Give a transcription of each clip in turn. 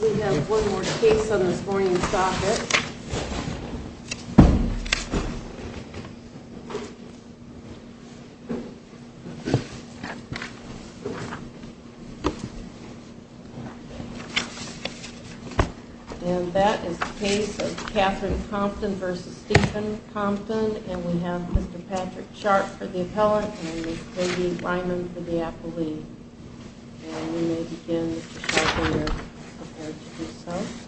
We have one more case on this morning's docket. And that is the case of Katherine Compton v. Stephen Compton. And we have Mr. Patrick Sharp for the appellant and Ms. Katie Ryman for the appellee. And we may begin with Katherine, your appellant yourself.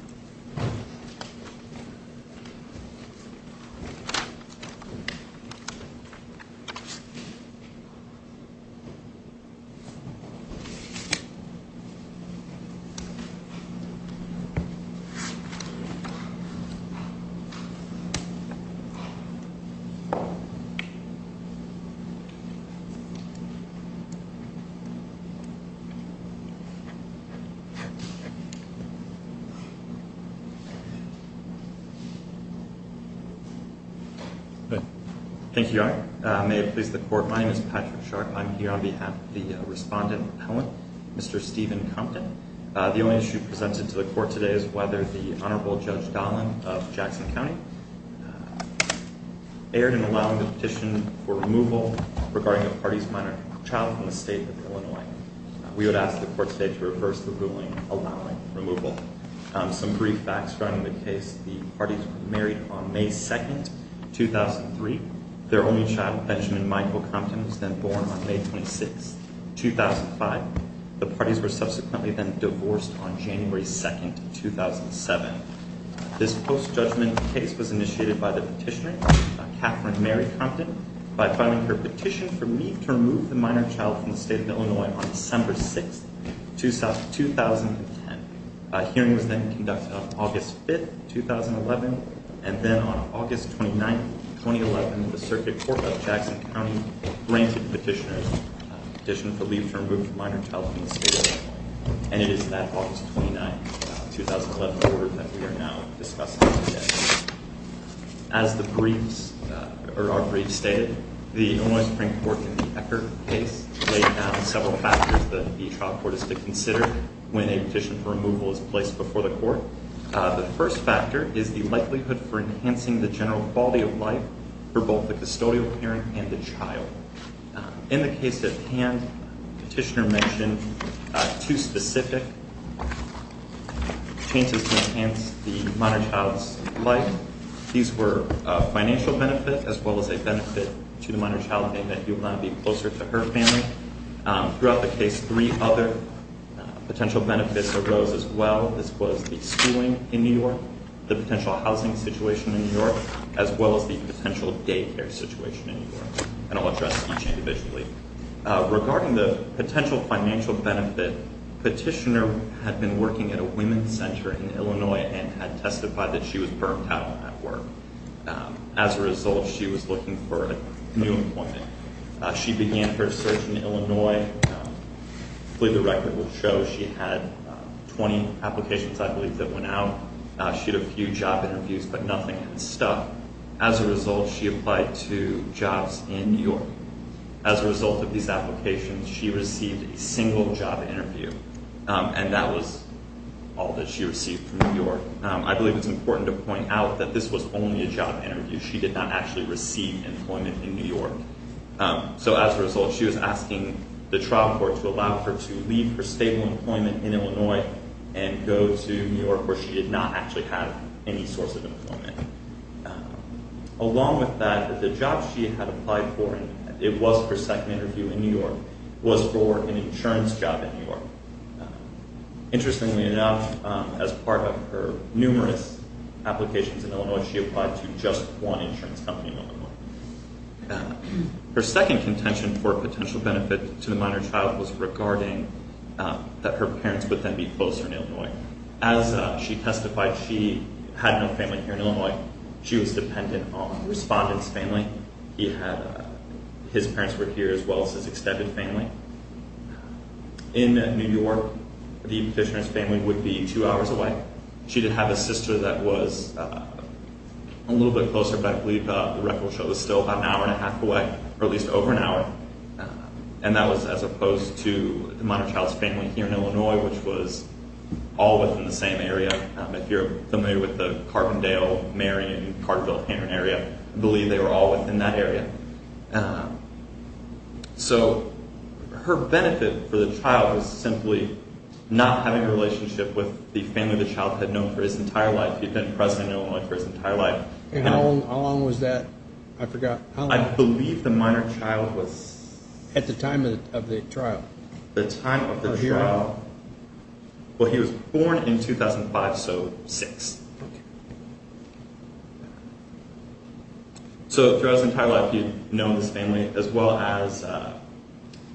Thank you, Your Honor. May it please the Court, my name is Patrick Sharp. I'm here on behalf of the respondent appellant, Mr. Stephen Compton. The only issue presented to the Court today is whether the Honorable Judge Dahlin of Jackson County erred in allowing the petition for removal regarding a party's minor child from the state of Illinois. We would ask the Court today to reverse the ruling, allowing removal. Some brief facts regarding the case. The parties were married on May 2, 2003. Their only child, Benjamin Michael Compton, was then born on May 26, 2005. The parties were subsequently then divorced on January 2, 2007. This post-judgment case was initiated by the petitioner, Katherine Mary Compton, by filing her petition for leave to remove the minor child from the state of Illinois on December 6, 2010. A hearing was then conducted on August 5, 2011. And then on August 29, 2011, the Circuit Court of Jackson County granted the petitioner's petition for leave to remove the minor child from the state of Illinois. And it is that August 29, 2011 order that we are now discussing today. As the briefs, or our briefs stated, the Illinois Supreme Court in the Ecker case laid down several factors that the trial court is to consider when a petition for removal is placed before the Court. The first factor is the likelihood for enhancing the general quality of life for both the custodial parent and the child. In the case at hand, the petitioner mentioned two specific changes to enhance the minor child's life. These were a financial benefit as well as a benefit to the minor child in that he would not be closer to her family. Throughout the case, three other potential benefits arose as well. This was the schooling in New York, the potential housing situation in New York, as well as the potential daycare situation in New York. And I'll address each individually. Regarding the potential financial benefit, the petitioner had been working at a women's center in Illinois and had testified that she was burnt out at work. As a result, she was looking for new employment. She began her search in Illinois. I believe the record will show she had 20 applications, I believe, that went out. She had a few job interviews, but nothing had stuck. As a result, she applied to jobs in New York. As a result of these applications, she received a single job interview, and that was all that she received from New York. I believe it's important to point out that this was only a job interview. She did not actually receive employment in New York. So as a result, she was asking the trial court to allow her to leave her stable employment in Illinois and go to New York, where she did not actually have any source of employment. Along with that, the job she had applied for, and it was her second interview in New York, was for an insurance job in New York. Interestingly enough, as part of her numerous applications in Illinois, she applied to just one insurance company in Illinois. Her second contention for potential benefit to the minor child was regarding that her parents would then be closer in Illinois. As she testified, she had no family here in Illinois. She was dependent on a respondent's family. His parents were here as well as his extended family. In New York, the petitioner's family would be two hours away. She did have a sister that was a little bit closer, but I believe the record show was still about an hour and a half away, or at least over an hour. That was as opposed to the minor child's family here in Illinois, which was all within the same area. If you're familiar with the Carbondale, Marion, and Cartfield-Hannon area, I believe they were all within that area. Her benefit for the child was simply not having a relationship with the family the child had known for his entire life. He had been present in Illinois for his entire life. How long was that? I forgot. I believe the minor child was... At the time of the trial. The time of the trial. Well, he was born in 2005, so six. So throughout his entire life, he had known his family as well as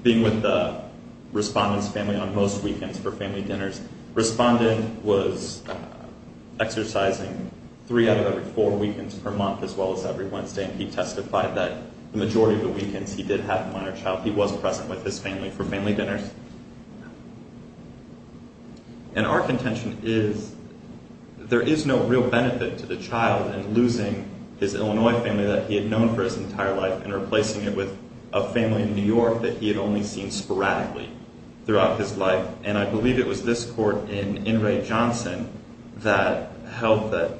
being with the respondent's family on most weekends for family dinners. Respondent was exercising three out of every four weekends per month as well as every Wednesday, and he testified that the majority of the weekends he did have the minor child. He was present with his family for family dinners. And our contention is there is no real benefit to the child in losing his Illinois family that he had known for his entire life and replacing it with a family in New York that he had only seen sporadically throughout his life, and I believe it was this court in In re Johnson that held that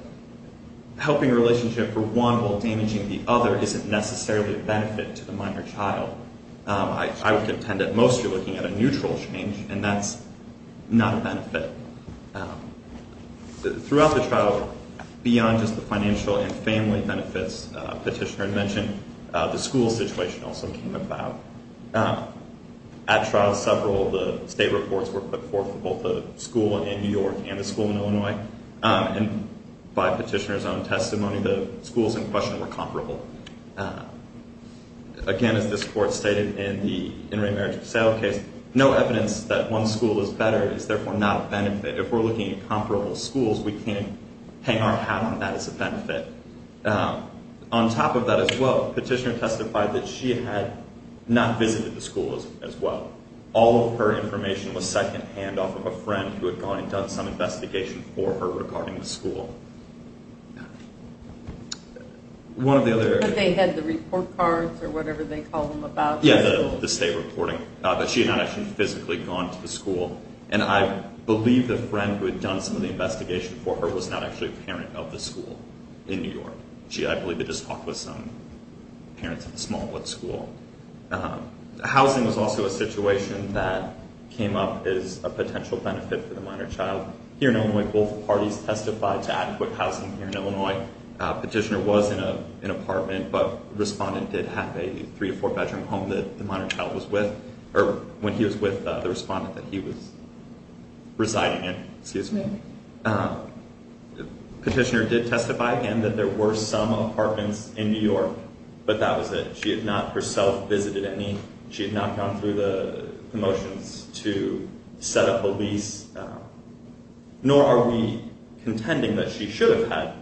helping a relationship for one while damaging the other isn't necessarily a benefit to the minor child. I would contend that most are looking at a neutral change, and that's not a benefit. Throughout the trial, beyond just the financial and family benefits Petitioner had mentioned, the school situation also came about. At trial, several of the state reports were put forth for both the school in New York and the school in Illinois, and by Petitioner's own testimony, the schools in question were comparable. Again, as this court stated in the in-rate marriage for sale case, no evidence that one school is better is therefore not a benefit. If we're looking at comparable schools, we can't hang our hat on that as a benefit. On top of that as well, Petitioner testified that she had not visited the school as well. All of her information was secondhand off of a friend who had gone and done some investigation for her regarding the school. One of the other- They had the report cards or whatever they call them about. Yeah, the state reporting, but she had not actually physically gone to the school, and I believe the friend who had done some of the investigation for her was not actually a parent of the school in New York. I believe it just was some parents of the small school. Housing was also a situation that came up as a potential benefit for the minor child. Here in Illinois, both parties testified to adequate housing here in Illinois. Petitioner was in an apartment, but the respondent did have a three- to four-bedroom home that the minor child was with, or when he was with the respondent that he was residing in. Petitioner did testify, again, that there were some apartments in New York, but that was it. She had not herself visited any. She had not gone through the motions to set up a lease, nor are we contending that she should have had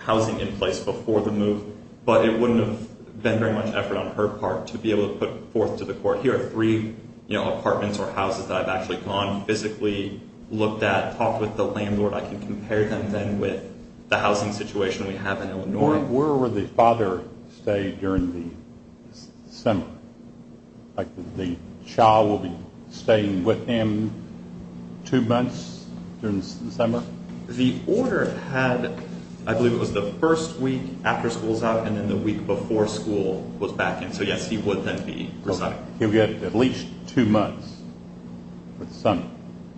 housing in place before the move, but it wouldn't have been very much effort on her part to be able to put forth to the court, here are three apartments or houses that I've actually gone, physically looked at, talked with the landlord. I can compare them then with the housing situation we have in Illinois. Where would the father stay during the summer? The child would be staying with him two months during the summer? The order had, I believe it was the first week after school was out and then the week before school was back in, so yes, he would then be residing. He would get at least two months for the summer.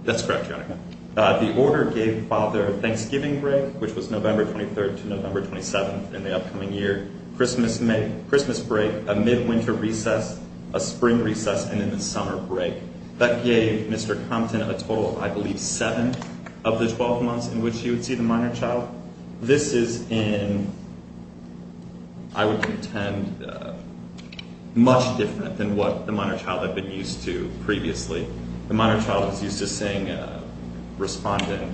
That's correct, Your Honor. The order gave father Thanksgiving break, which was November 23rd to November 27th in the upcoming year, Christmas break, a midwinter recess, a spring recess, and then the summer break. That gave Mr. Compton a total of, I believe, seven of the 12 months in which he would see the minor child. This is in, I would contend, much different than what the minor child had been used to previously. The minor child was used to seeing a respondent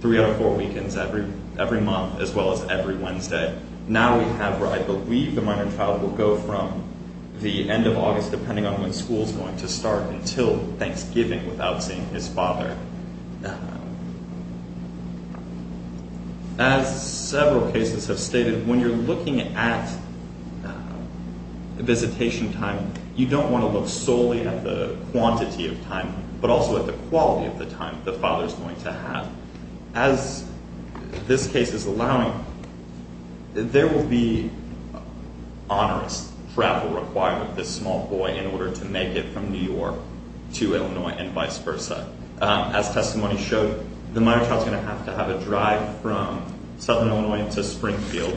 three out of four weekends every month as well as every Wednesday. Now we have where I believe the minor child will go from the end of August, depending on when school is going to start, until Thanksgiving without seeing his father. As several cases have stated, when you're looking at visitation time, you don't want to look solely at the quantity of time but also at the quality of the time the father is going to have. As this case is allowing, there will be onerous travel required with this small boy in order to make it from New York to Illinois and vice versa. As testimony showed, the minor child is going to have to have a drive from southern Illinois to Springfield,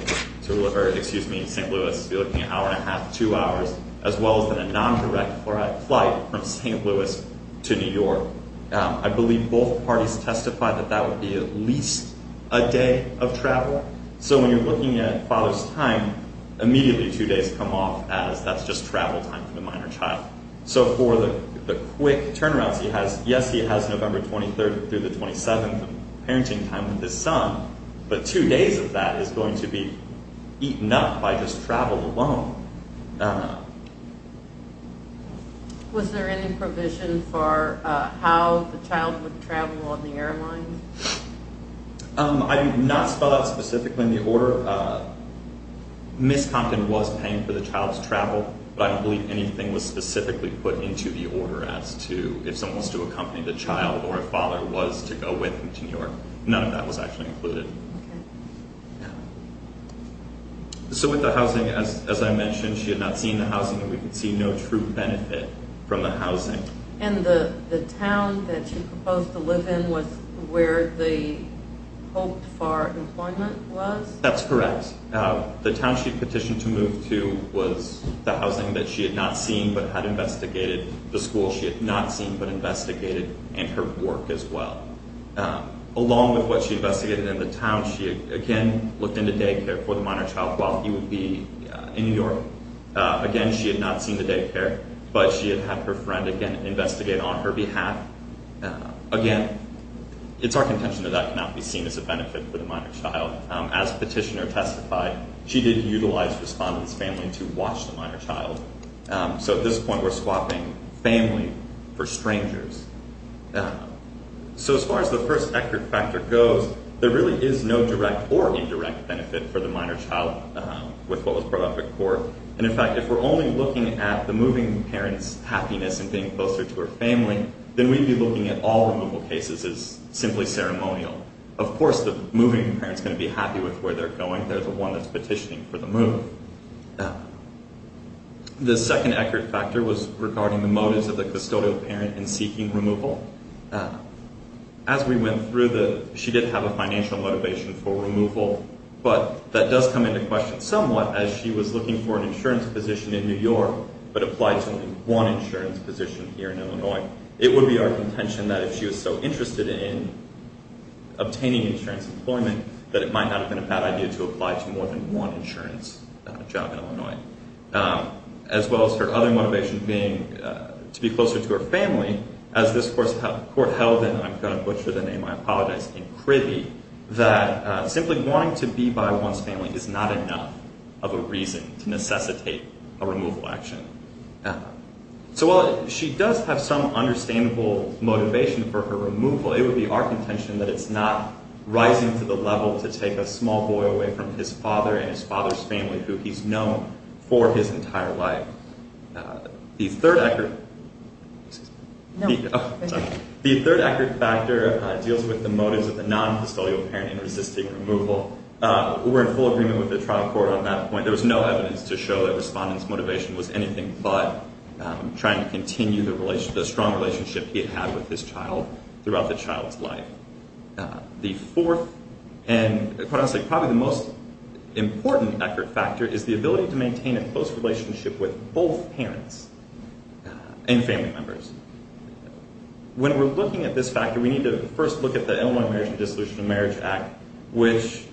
excuse me, St. Louis, an hour and a half, two hours, as well as a non-direct flight from St. Louis to New York. I believe both parties testified that that would be at least a day of travel. When you're looking at father's time, immediately two days come off as that's just travel time for the minor child. For the quick turnarounds, yes, he has November 23rd through the 27th of parenting time with his son, but two days of that is going to be eaten up by just travel alone. Was there any provision for how the child would travel on the airline? I did not spell out specifically in the order. Miss Compton was paying for the child's travel, but I don't believe anything was specifically put into the order as to if someone was to accompany the child or if father was to go with him to New York. None of that was actually included. With the housing, as I mentioned, she had not seen the housing and we could see no true benefit from the housing. The town that she proposed to live in was where the hope for employment was? That's correct. The town she petitioned to move to was the housing that she had not seen but had investigated. The school she had not seen but investigated and her work as well. Along with what she investigated in the town, she again looked into daycare for the minor child while he would be in New York. Again, she had not seen the daycare, but she had had her friend again investigate on her behalf. Again, it's our contention that that cannot be seen as a benefit for the minor child. As petitioner testified, she did utilize respondent's family to watch the minor child. At this point, we're swapping family for strangers. As far as the first eckard factor goes, there really is no direct or indirect benefit for the minor child with what was brought up at court. In fact, if we're only looking at the moving parent's happiness in being closer to her family, then we'd be looking at all removal cases as simply ceremonial. Of course, the moving parent's going to be happy with where they're going. At this point, there's one that's petitioning for the move. The second eckard factor was regarding the motives of the custodial parent in seeking removal. As we went through, she did have a financial motivation for removal, but that does come into question somewhat as she was looking for an insurance position in New York but applied to only one insurance position here in Illinois. It would be our contention that if she was so interested in obtaining insurance employment, that it might not have been a bad idea to apply to more than one insurance job in Illinois. As well as her other motivation being to be closer to her family, as this court held in, I'm going to butcher the name, I apologize, in Kribbe, that simply wanting to be by one's family is not enough of a reason to necessitate a removal action. So while she does have some understandable motivation for her removal, it would be our contention that it's not rising to the level to take a small boy away from his father and his father's family who he's known for his entire life. The third eckard factor deals with the motives of the non-custodial parent in resisting removal. We're in full agreement with the trial court on that point. There was no evidence to show that Respondent's motivation was anything but trying to continue the strong relationship he had with his child throughout the child's life. The fourth and, quite honestly, probably the most important eckard factor is the ability to maintain a close relationship with both parents and family members. When we're looking at this factor, we need to first look at the Illinois Marriage and Dissolution of Marriage Act, which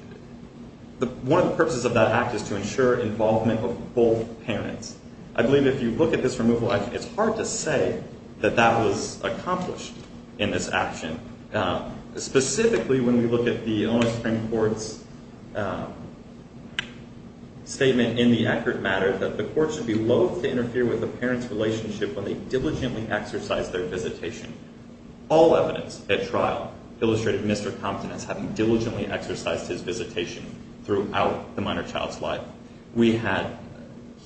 one of the purposes of that act is to ensure involvement of both parents. I believe if you look at this removal action, it's hard to say that that was accomplished in this action. Specifically, when we look at the Illinois Supreme Court's statement in the eckard matter that the court should be loath to interfere with a parent's relationship when they diligently exercise their visitation. All evidence at trial illustrated Mr. Compton as having diligently exercised his visitation throughout the minor child's life.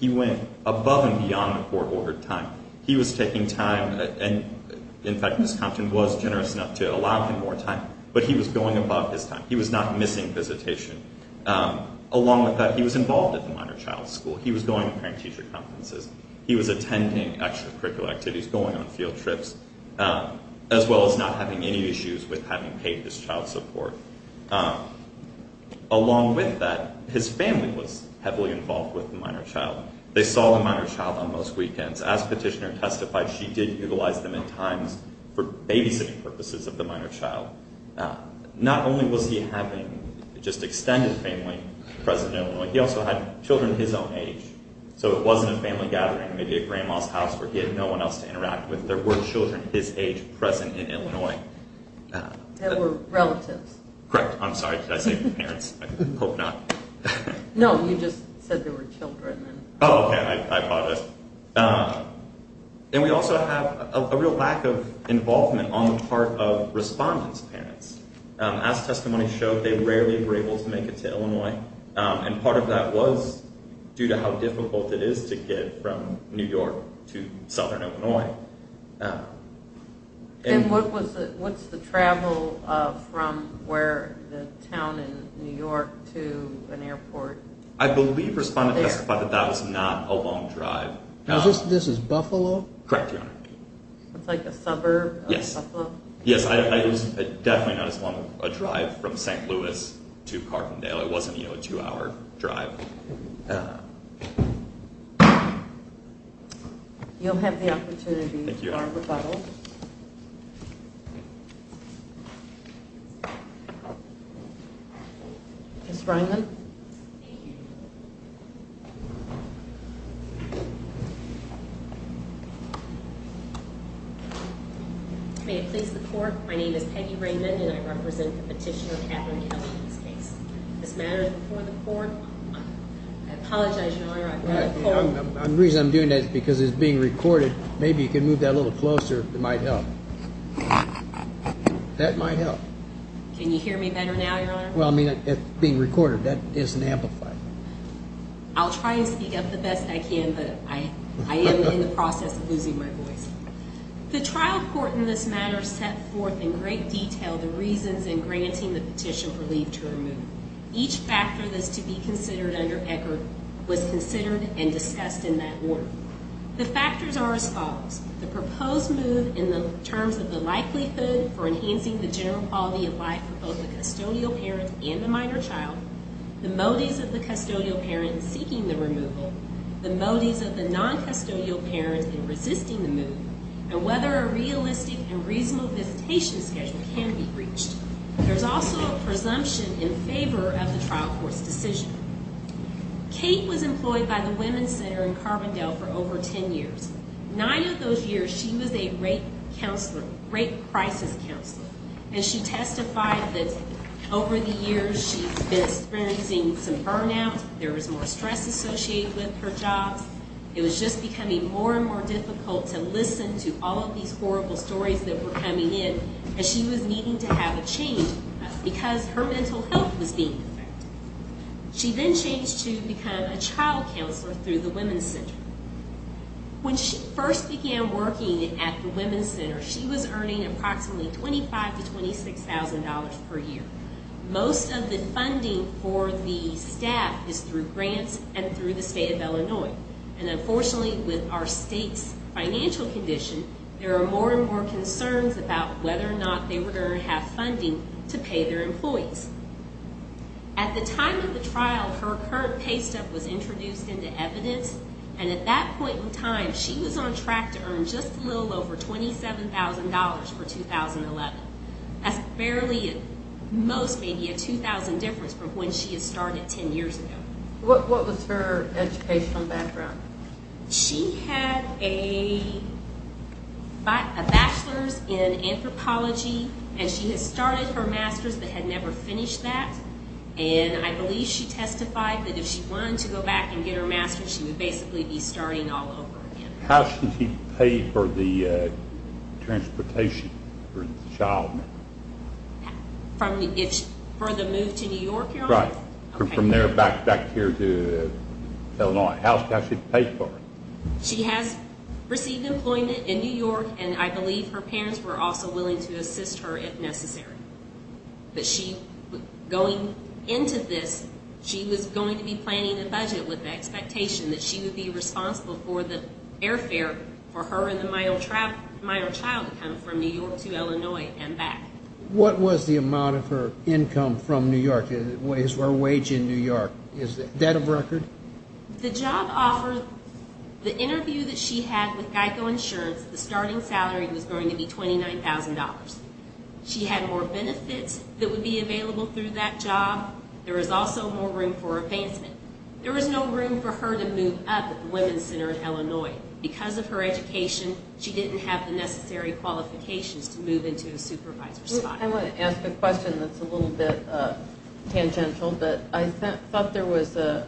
He went above and beyond the court-ordered time. He was taking time, and in fact, Ms. Compton was generous enough to allow him more time, but he was going above his time. He was not missing visitation. Along with that, he was involved at the minor child's school. He was going to parent-teacher conferences. He was attending extracurricular activities, going on field trips, as well as not having any issues with having paid his child support. Along with that, his family was heavily involved with the minor child. They saw the minor child on most weekends. As Petitioner testified, she did utilize them at times for babysitting purposes of the minor child. Not only was he having just extended family present in Illinois, he also had children his own age. So it wasn't a family gathering, maybe a grandma's house where he had no one else to interact with. There were children his age present in Illinois. There were relatives. Correct. I'm sorry. Did I say parents? I hope not. No, you just said there were children. Oh, okay. I apologize. And we also have a real lack of involvement on the part of respondent's parents. As testimony showed, they rarely were able to make it to Illinois, and part of that was due to how difficult it is to get from New York to southern Illinois. And what's the travel from the town in New York to an airport? I believe respondent testified that that was not a long drive. This is Buffalo? Correct, Your Honor. It's like a suburb of Buffalo? Yes. It was definitely not as long a drive from St. Louis to Carpendale. It wasn't a two-hour drive. Thank you. You'll have the opportunity for a rebuttal. Thank you. Ms. Raymond. Thank you. May it please the court, my name is Peggy Raymond, and I represent the petitioner, Catherine Kelly, in this case. This matter is before the court. I apologize, Your Honor. The reason I'm doing that is because it's being recorded. Maybe you can move that a little closer. It might help. That might help. Can you hear me better now, Your Honor? Well, I mean, it's being recorded. That isn't amplified. I'll try and speak up the best I can, but I am in the process of losing my voice. The trial court in this matter set forth in great detail the reasons in granting the petition for leave to remove. Each factor that's to be considered under ECHR was considered and discussed in that order. The factors are as follows. The proposed move in terms of the likelihood for enhancing the general quality of life for both the custodial parent and the minor child, the motives of the custodial parent in seeking the removal, the motives of the non-custodial parent in resisting the move, and whether a realistic and reasonable visitation schedule can be reached. There's also a presumption in favor of the trial court's decision. Kate was employed by the Women's Center in Carbondale for over ten years. Nine of those years, she was a rape counselor, rape crisis counselor, and she testified that over the years, she's been experiencing some burnout. There was more stress associated with her job. It was just becoming more and more difficult to listen to all of these horrible stories that were coming in, and she was needing to have a change because her mental health was being affected. She then changed to become a child counselor through the Women's Center. When she first began working at the Women's Center, she was earning approximately $25,000 to $26,000 per year. Most of the funding for the staff is through grants and through the state of Illinois, and unfortunately, with our state's financial condition, there are more and more concerns about whether or not they were going to have funding to pay their employees. At the time of the trial, her pay stuff was introduced into evidence, and at that point in time, she was on track to earn just a little over $27,000 for 2011. That's barely, at most, maybe a $2,000 difference from when she had started ten years ago. What was her educational background? She had a bachelor's in anthropology, and she had started her master's but had never finished that, and I believe she testified that if she wanted to go back and get her master's, she would basically be starting all over again. How did she pay for the transportation for the child? For the move to New York, Your Honor? Right. From there back here to Illinois. How did she pay for it? She has received employment in New York, and I believe her parents were also willing to assist her if necessary. But she, going into this, she was going to be planning a budget with the expectation that she would be responsible for the airfare for her and my own child to come from New York to Illinois and back. What was the amount of her income from New York, her wage in New York? Is that of record? The job offer, the interview that she had with Geico Insurance, the starting salary was going to be $29,000. She had more benefits that would be available through that job. There was also more room for advancement. There was no room for her to move up at the Women's Center in Illinois. Because of her education, she didn't have the necessary qualifications to move into a supervisor's file. I want to ask a question that's a little bit tangential, but I thought there was an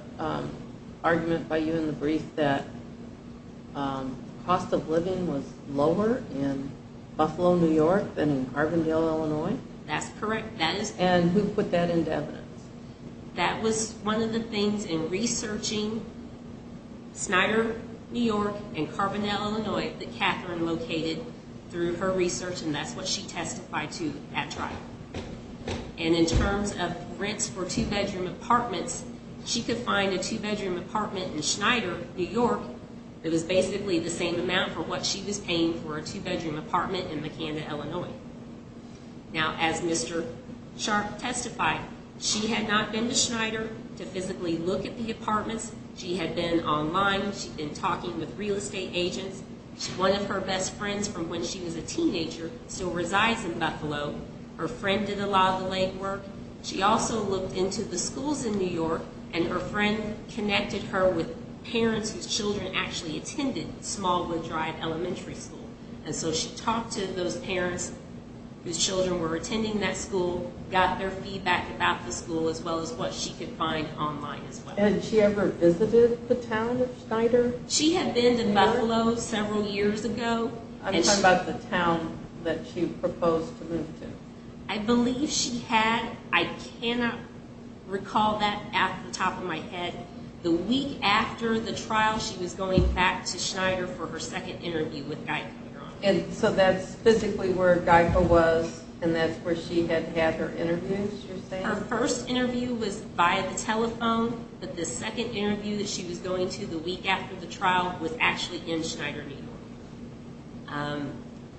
argument by you in the brief that the cost of living was lower in Buffalo, New York, than in Carbondale, Illinois. That's correct. And who put that into evidence? That was one of the things in researching Snyder, New York, and Carbondale, Illinois, that Catherine located through her research, and that's what she testified to at trial. And in terms of rents for two-bedroom apartments, she could find a two-bedroom apartment in Snyder, New York, that was basically the same amount for what she was paying for a two-bedroom apartment in McAnda, Illinois. Now, as Mr. Sharp testified, she had not been to Snyder to physically look at the apartments. She had been online. She'd been talking with real estate agents. One of her best friends from when she was a teenager still resides in Buffalo. Her friend did a lot of the legwork. She also looked into the schools in New York, and her friend connected her with parents whose children actually attended Smallwood Drive Elementary School. And so she talked to those parents whose children were attending that school, got their feedback about the school, as well as what she could find online as well. And she ever visited the town of Snyder? She had been to Buffalo several years ago. I'm talking about the town that she proposed to move to. I believe she had. I cannot recall that off the top of my head. The week after the trial, she was going back to Snyder for her second interview with Geico, New York. And so that's physically where Geico was, and that's where she had had her interviews, you're saying? Her first interview was via the telephone, but the second interview that she was going to the week after the trial was actually in Snyder, New York.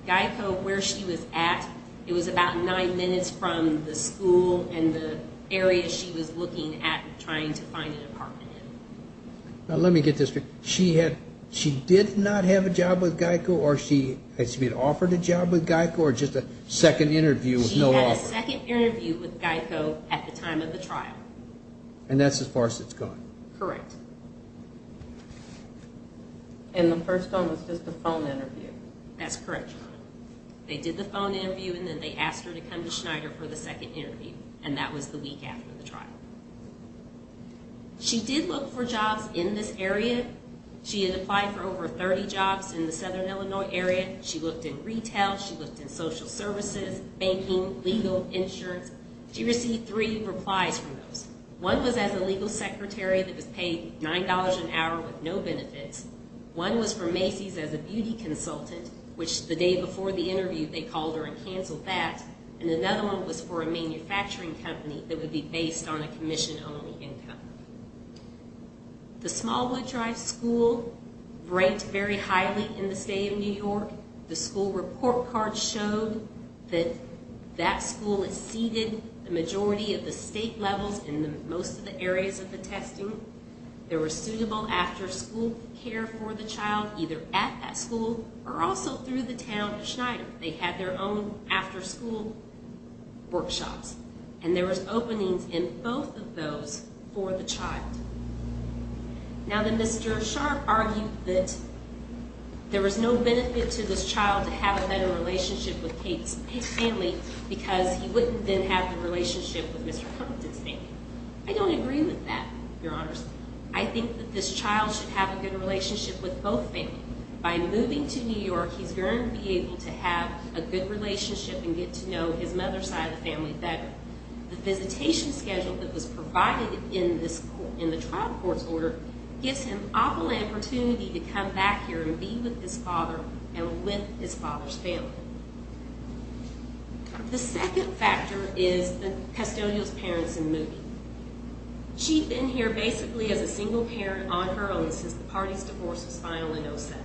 Geico, where she was at, it was about nine minutes from the school and the area she was looking at trying to find an apartment in. Now let me get this. She did not have a job with Geico, or she had offered a job with Geico, or just a second interview with no offer? She had a second interview with Geico at the time of the trial. And that's as far as it's going? Correct. And the first one was just a phone interview? That's correct. They did the phone interview, and then they asked her to come to Snyder for the second interview, and that was the week after the trial. She did look for jobs in this area. She had applied for over 30 jobs in the Southern Illinois area. She looked in retail. She looked in social services, banking, legal, insurance. She received three replies from those. One was as a legal secretary that was paid $9 an hour with no benefits. One was from Macy's as a beauty consultant, which the day before the interview they called her and canceled that. And another one was for a manufacturing company that would be based on a commission-only income. The Smallwood Drive School ranked very highly in the state of New York. The school report card showed that that school exceeded the majority of the state levels in most of the areas of the testing. There was suitable after-school care for the child, either at that school or also through the town of Snyder. They had their own after-school workshops, and there was openings in both of those for the child. Now the Mr. Sharp argued that there was no benefit to this child to have a better relationship with Kate's family because he wouldn't then have the relationship with Mr. Humpton's family. I don't agree with that, Your Honors. I think that this child should have a good relationship with both families. By moving to New York, he's going to be able to have a good relationship and get to know his mother's side of the family better. The visitation schedule that was provided in the trial court's order gives him ample opportunity to come back here and be with his father and with his father's family. The second factor is Castillo's parents in moving. She'd been here basically as a single parent on her own since the party's divorce was filed in 2007.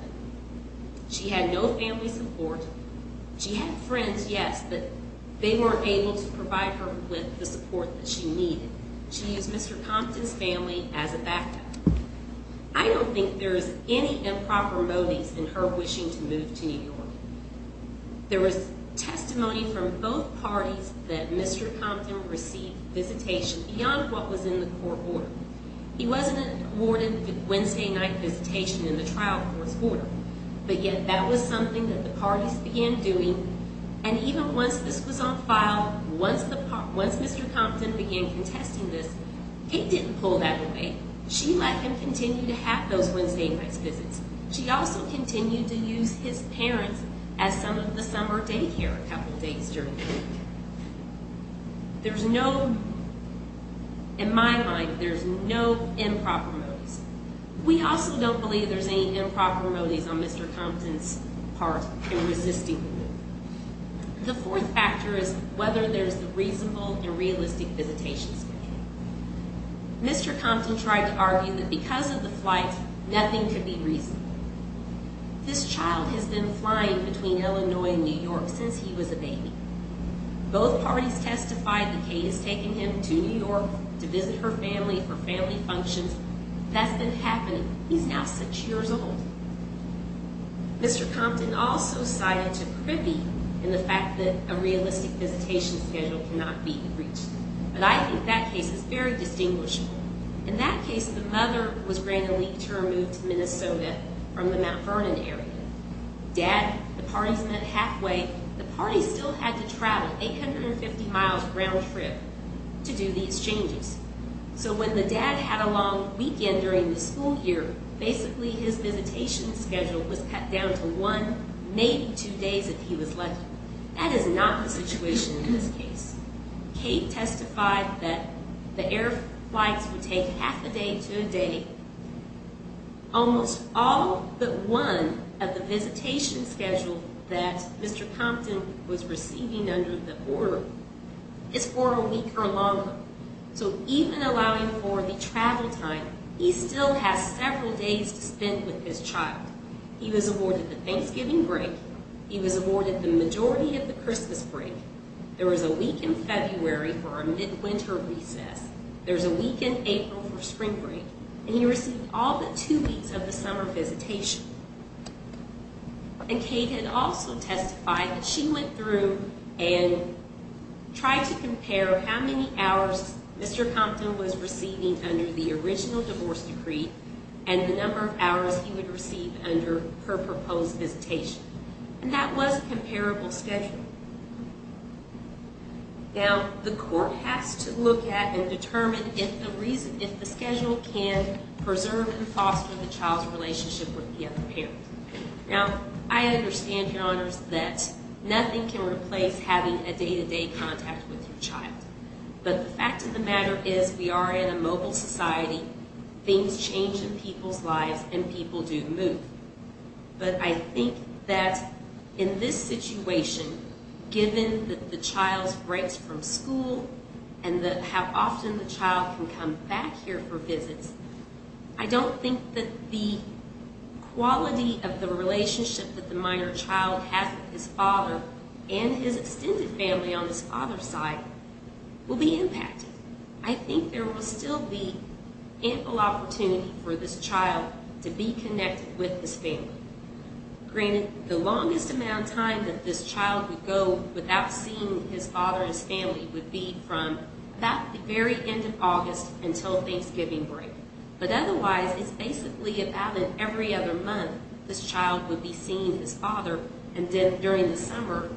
She had no family support. She had friends, yes, but they weren't able to provide her with the support that she needed. She used Mr. Humpton's family as a backup. I don't think there's any improper motives in her wishing to move to New York. There was testimony from both parties that Mr. Humpton received visitation beyond what was in the court order. He wasn't awarded the Wednesday night visitation in the trial court's order, but yet that was something that the parties began doing, and even once this was on file, once Mr. Humpton began contesting this, it didn't pull that away. She let him continue to have those Wednesday night visits. She also continued to use his parents as some of the summer day care a couple of days during the week. There's no, in my mind, there's no improper motives. We also don't believe there's any improper motives on Mr. Humpton's part in resisting the move. The fourth factor is whether there's a reasonable and realistic visitation schedule. Mr. Humpton tried to argue that because of the flight, nothing could be reasonable. This child has been flying between Illinois and New York since he was a baby. Both parties testified that Kate has taken him to New York to visit her family for family functions. That's been happening. He's now six years old. Mr. Humpton also cited a privy in the fact that a realistic visitation schedule cannot be reached, but I think that case is very distinguishable. In that case, the mother was granted leave to remove to Minnesota from the Mount Vernon area. Dad, the parties met halfway. The parties still had to travel 850 miles round trip to do these changes. So when the dad had a long weekend during the school year, basically his visitation schedule was cut down to one, maybe two days if he was lucky. That is not the situation in this case. Kate testified that the air flights would take half a day to a day. Almost all but one of the visitation schedule that Mr. Humpton was receiving under the order is for a week or longer. So even allowing for the travel time, he still has several days to spend with his child. He was awarded the Thanksgiving break. He was awarded the majority of the Christmas break. There was a week in February for a mid-winter recess. There's a week in April for spring break. And he received all but two weeks of the summer visitation. There are how many hours Mr. Humpton was receiving under the original divorce decree and the number of hours he would receive under her proposed visitation. And that was a comparable schedule. Now, the court has to look at and determine if the schedule can preserve and foster the child's relationship with the other parent. Now, I understand, Your Honors, that nothing can replace having a day-to-day contact with your child. But the fact of the matter is we are in a mobile society. Things change in people's lives and people do move. But I think that in this situation, given that the child breaks from school and how often the child can come back here for visits, I don't think that the quality of the relationship that the minor child has with his father and his extended family on his father's side will be impacted. I think there will still be ample opportunity for this child to be connected with his family. Granted, the longest amount of time that this child would go without seeing his father and his family would be from about the very end of August until Thanksgiving break. But otherwise, it's basically about every other month this child would be seeing his father, and then during the summer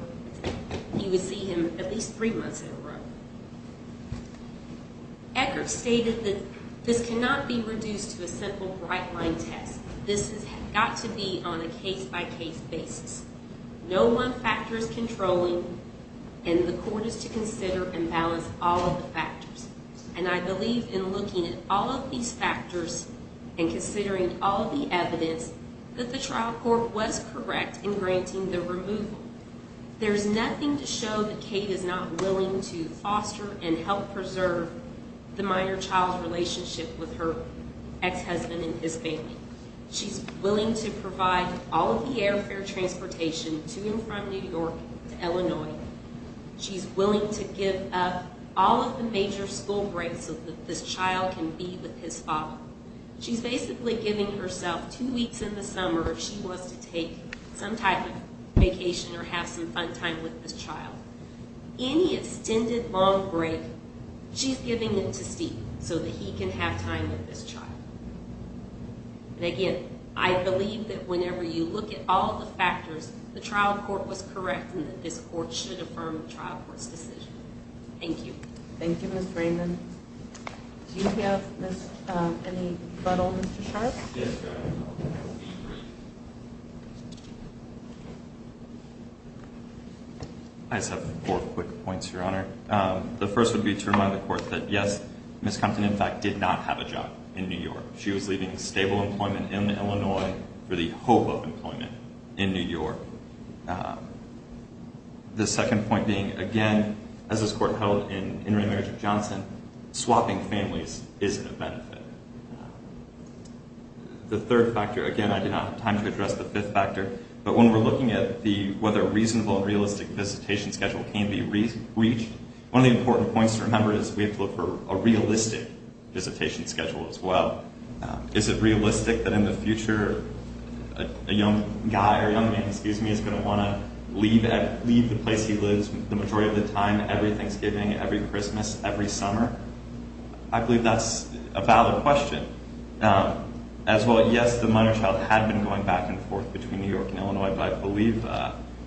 he would see him at least three months in a row. Eckert stated that this cannot be reduced to a simple bright-line test. This has got to be on a case-by-case basis. No one factor is controlling, and the court is to consider and balance all of the factors. And I believe in looking at all of these factors and considering all the evidence that the trial court was correct in granting the removal. There's nothing to show that Kate is not willing to foster and help preserve the minor child's relationship with her ex-husband and his baby. She's willing to provide all of the airfare transportation to and from New York to Illinois. She's willing to give up all of the major school breaks so that this child can be with his father. She's basically giving herself two weeks in the summer if she was to take some type of vacation or have some fun time with this child. Any extended long break, she's giving it to Steve so that he can have time with this child. And again, I believe that whenever you look at all of the factors, the trial court was correct in that this court should affirm the trial court's decision. Thank you. Thank you, Ms. Freeman. Do you have any rebuttal, Mr. Sharpe? Yes, ma'am. I just have four quick points, Your Honor. The first would be to remind the court that, yes, Ms. Compton, in fact, did not have a job in New York. She was leaving stable employment in Illinois for the hope of employment in New York. The second point being, again, as this court held in intermarriage with Johnson, swapping families isn't a benefit. The third factor, again, I did not have time to address the fifth factor, but when we're looking at whether a reasonable and realistic visitation schedule can be reached, one of the important points to remember is we have to look for a realistic visitation schedule as well. Is it realistic that in the future a young guy or young man, excuse me, is going to want to leave the place he lives the majority of the time, every Thanksgiving, every Christmas, every summer? I believe that's a valid question. As well, yes, the minor child had been going back and forth between New York and Illinois, but I believe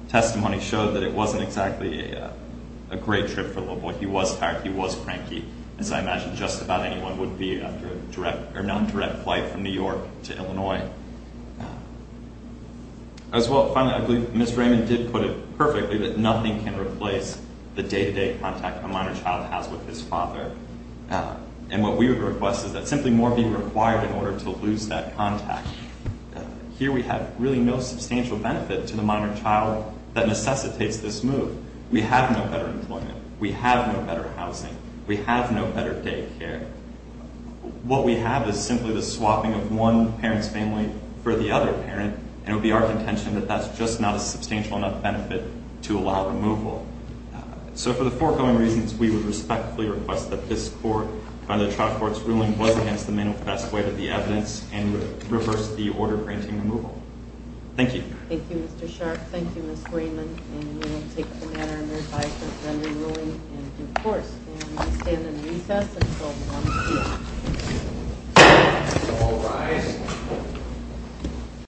testimony showed that it wasn't exactly a great trip for the little boy. He was tired. He was cranky. As I imagine, just about anyone would be after a direct or non-direct flight from New York to Illinois. As well, finally, I believe Ms. Raymond did put it perfectly, that nothing can replace the day-to-day contact a minor child has with his father. And what we would request is that simply more be required in order to lose that contact. Here we have really no substantial benefit to the minor child that necessitates this move. We have no better employment. We have no better housing. We have no better daycare. What we have is simply the swapping of one parent's family for the other parent, and it would be our contention that that's just not a substantial enough benefit to allow removal. So for the foregoing reasons, we would respectfully request that this court, by the trial court's ruling, was against the manifest way of the evidence, and would reverse the order granting removal. Thank you. Thank you, Mr. Sharpe. Thank you, Ms. Raymond. And we will take the manner and advice of rendering ruling and divorce. And we stand in recess until 1 p.m. All rise.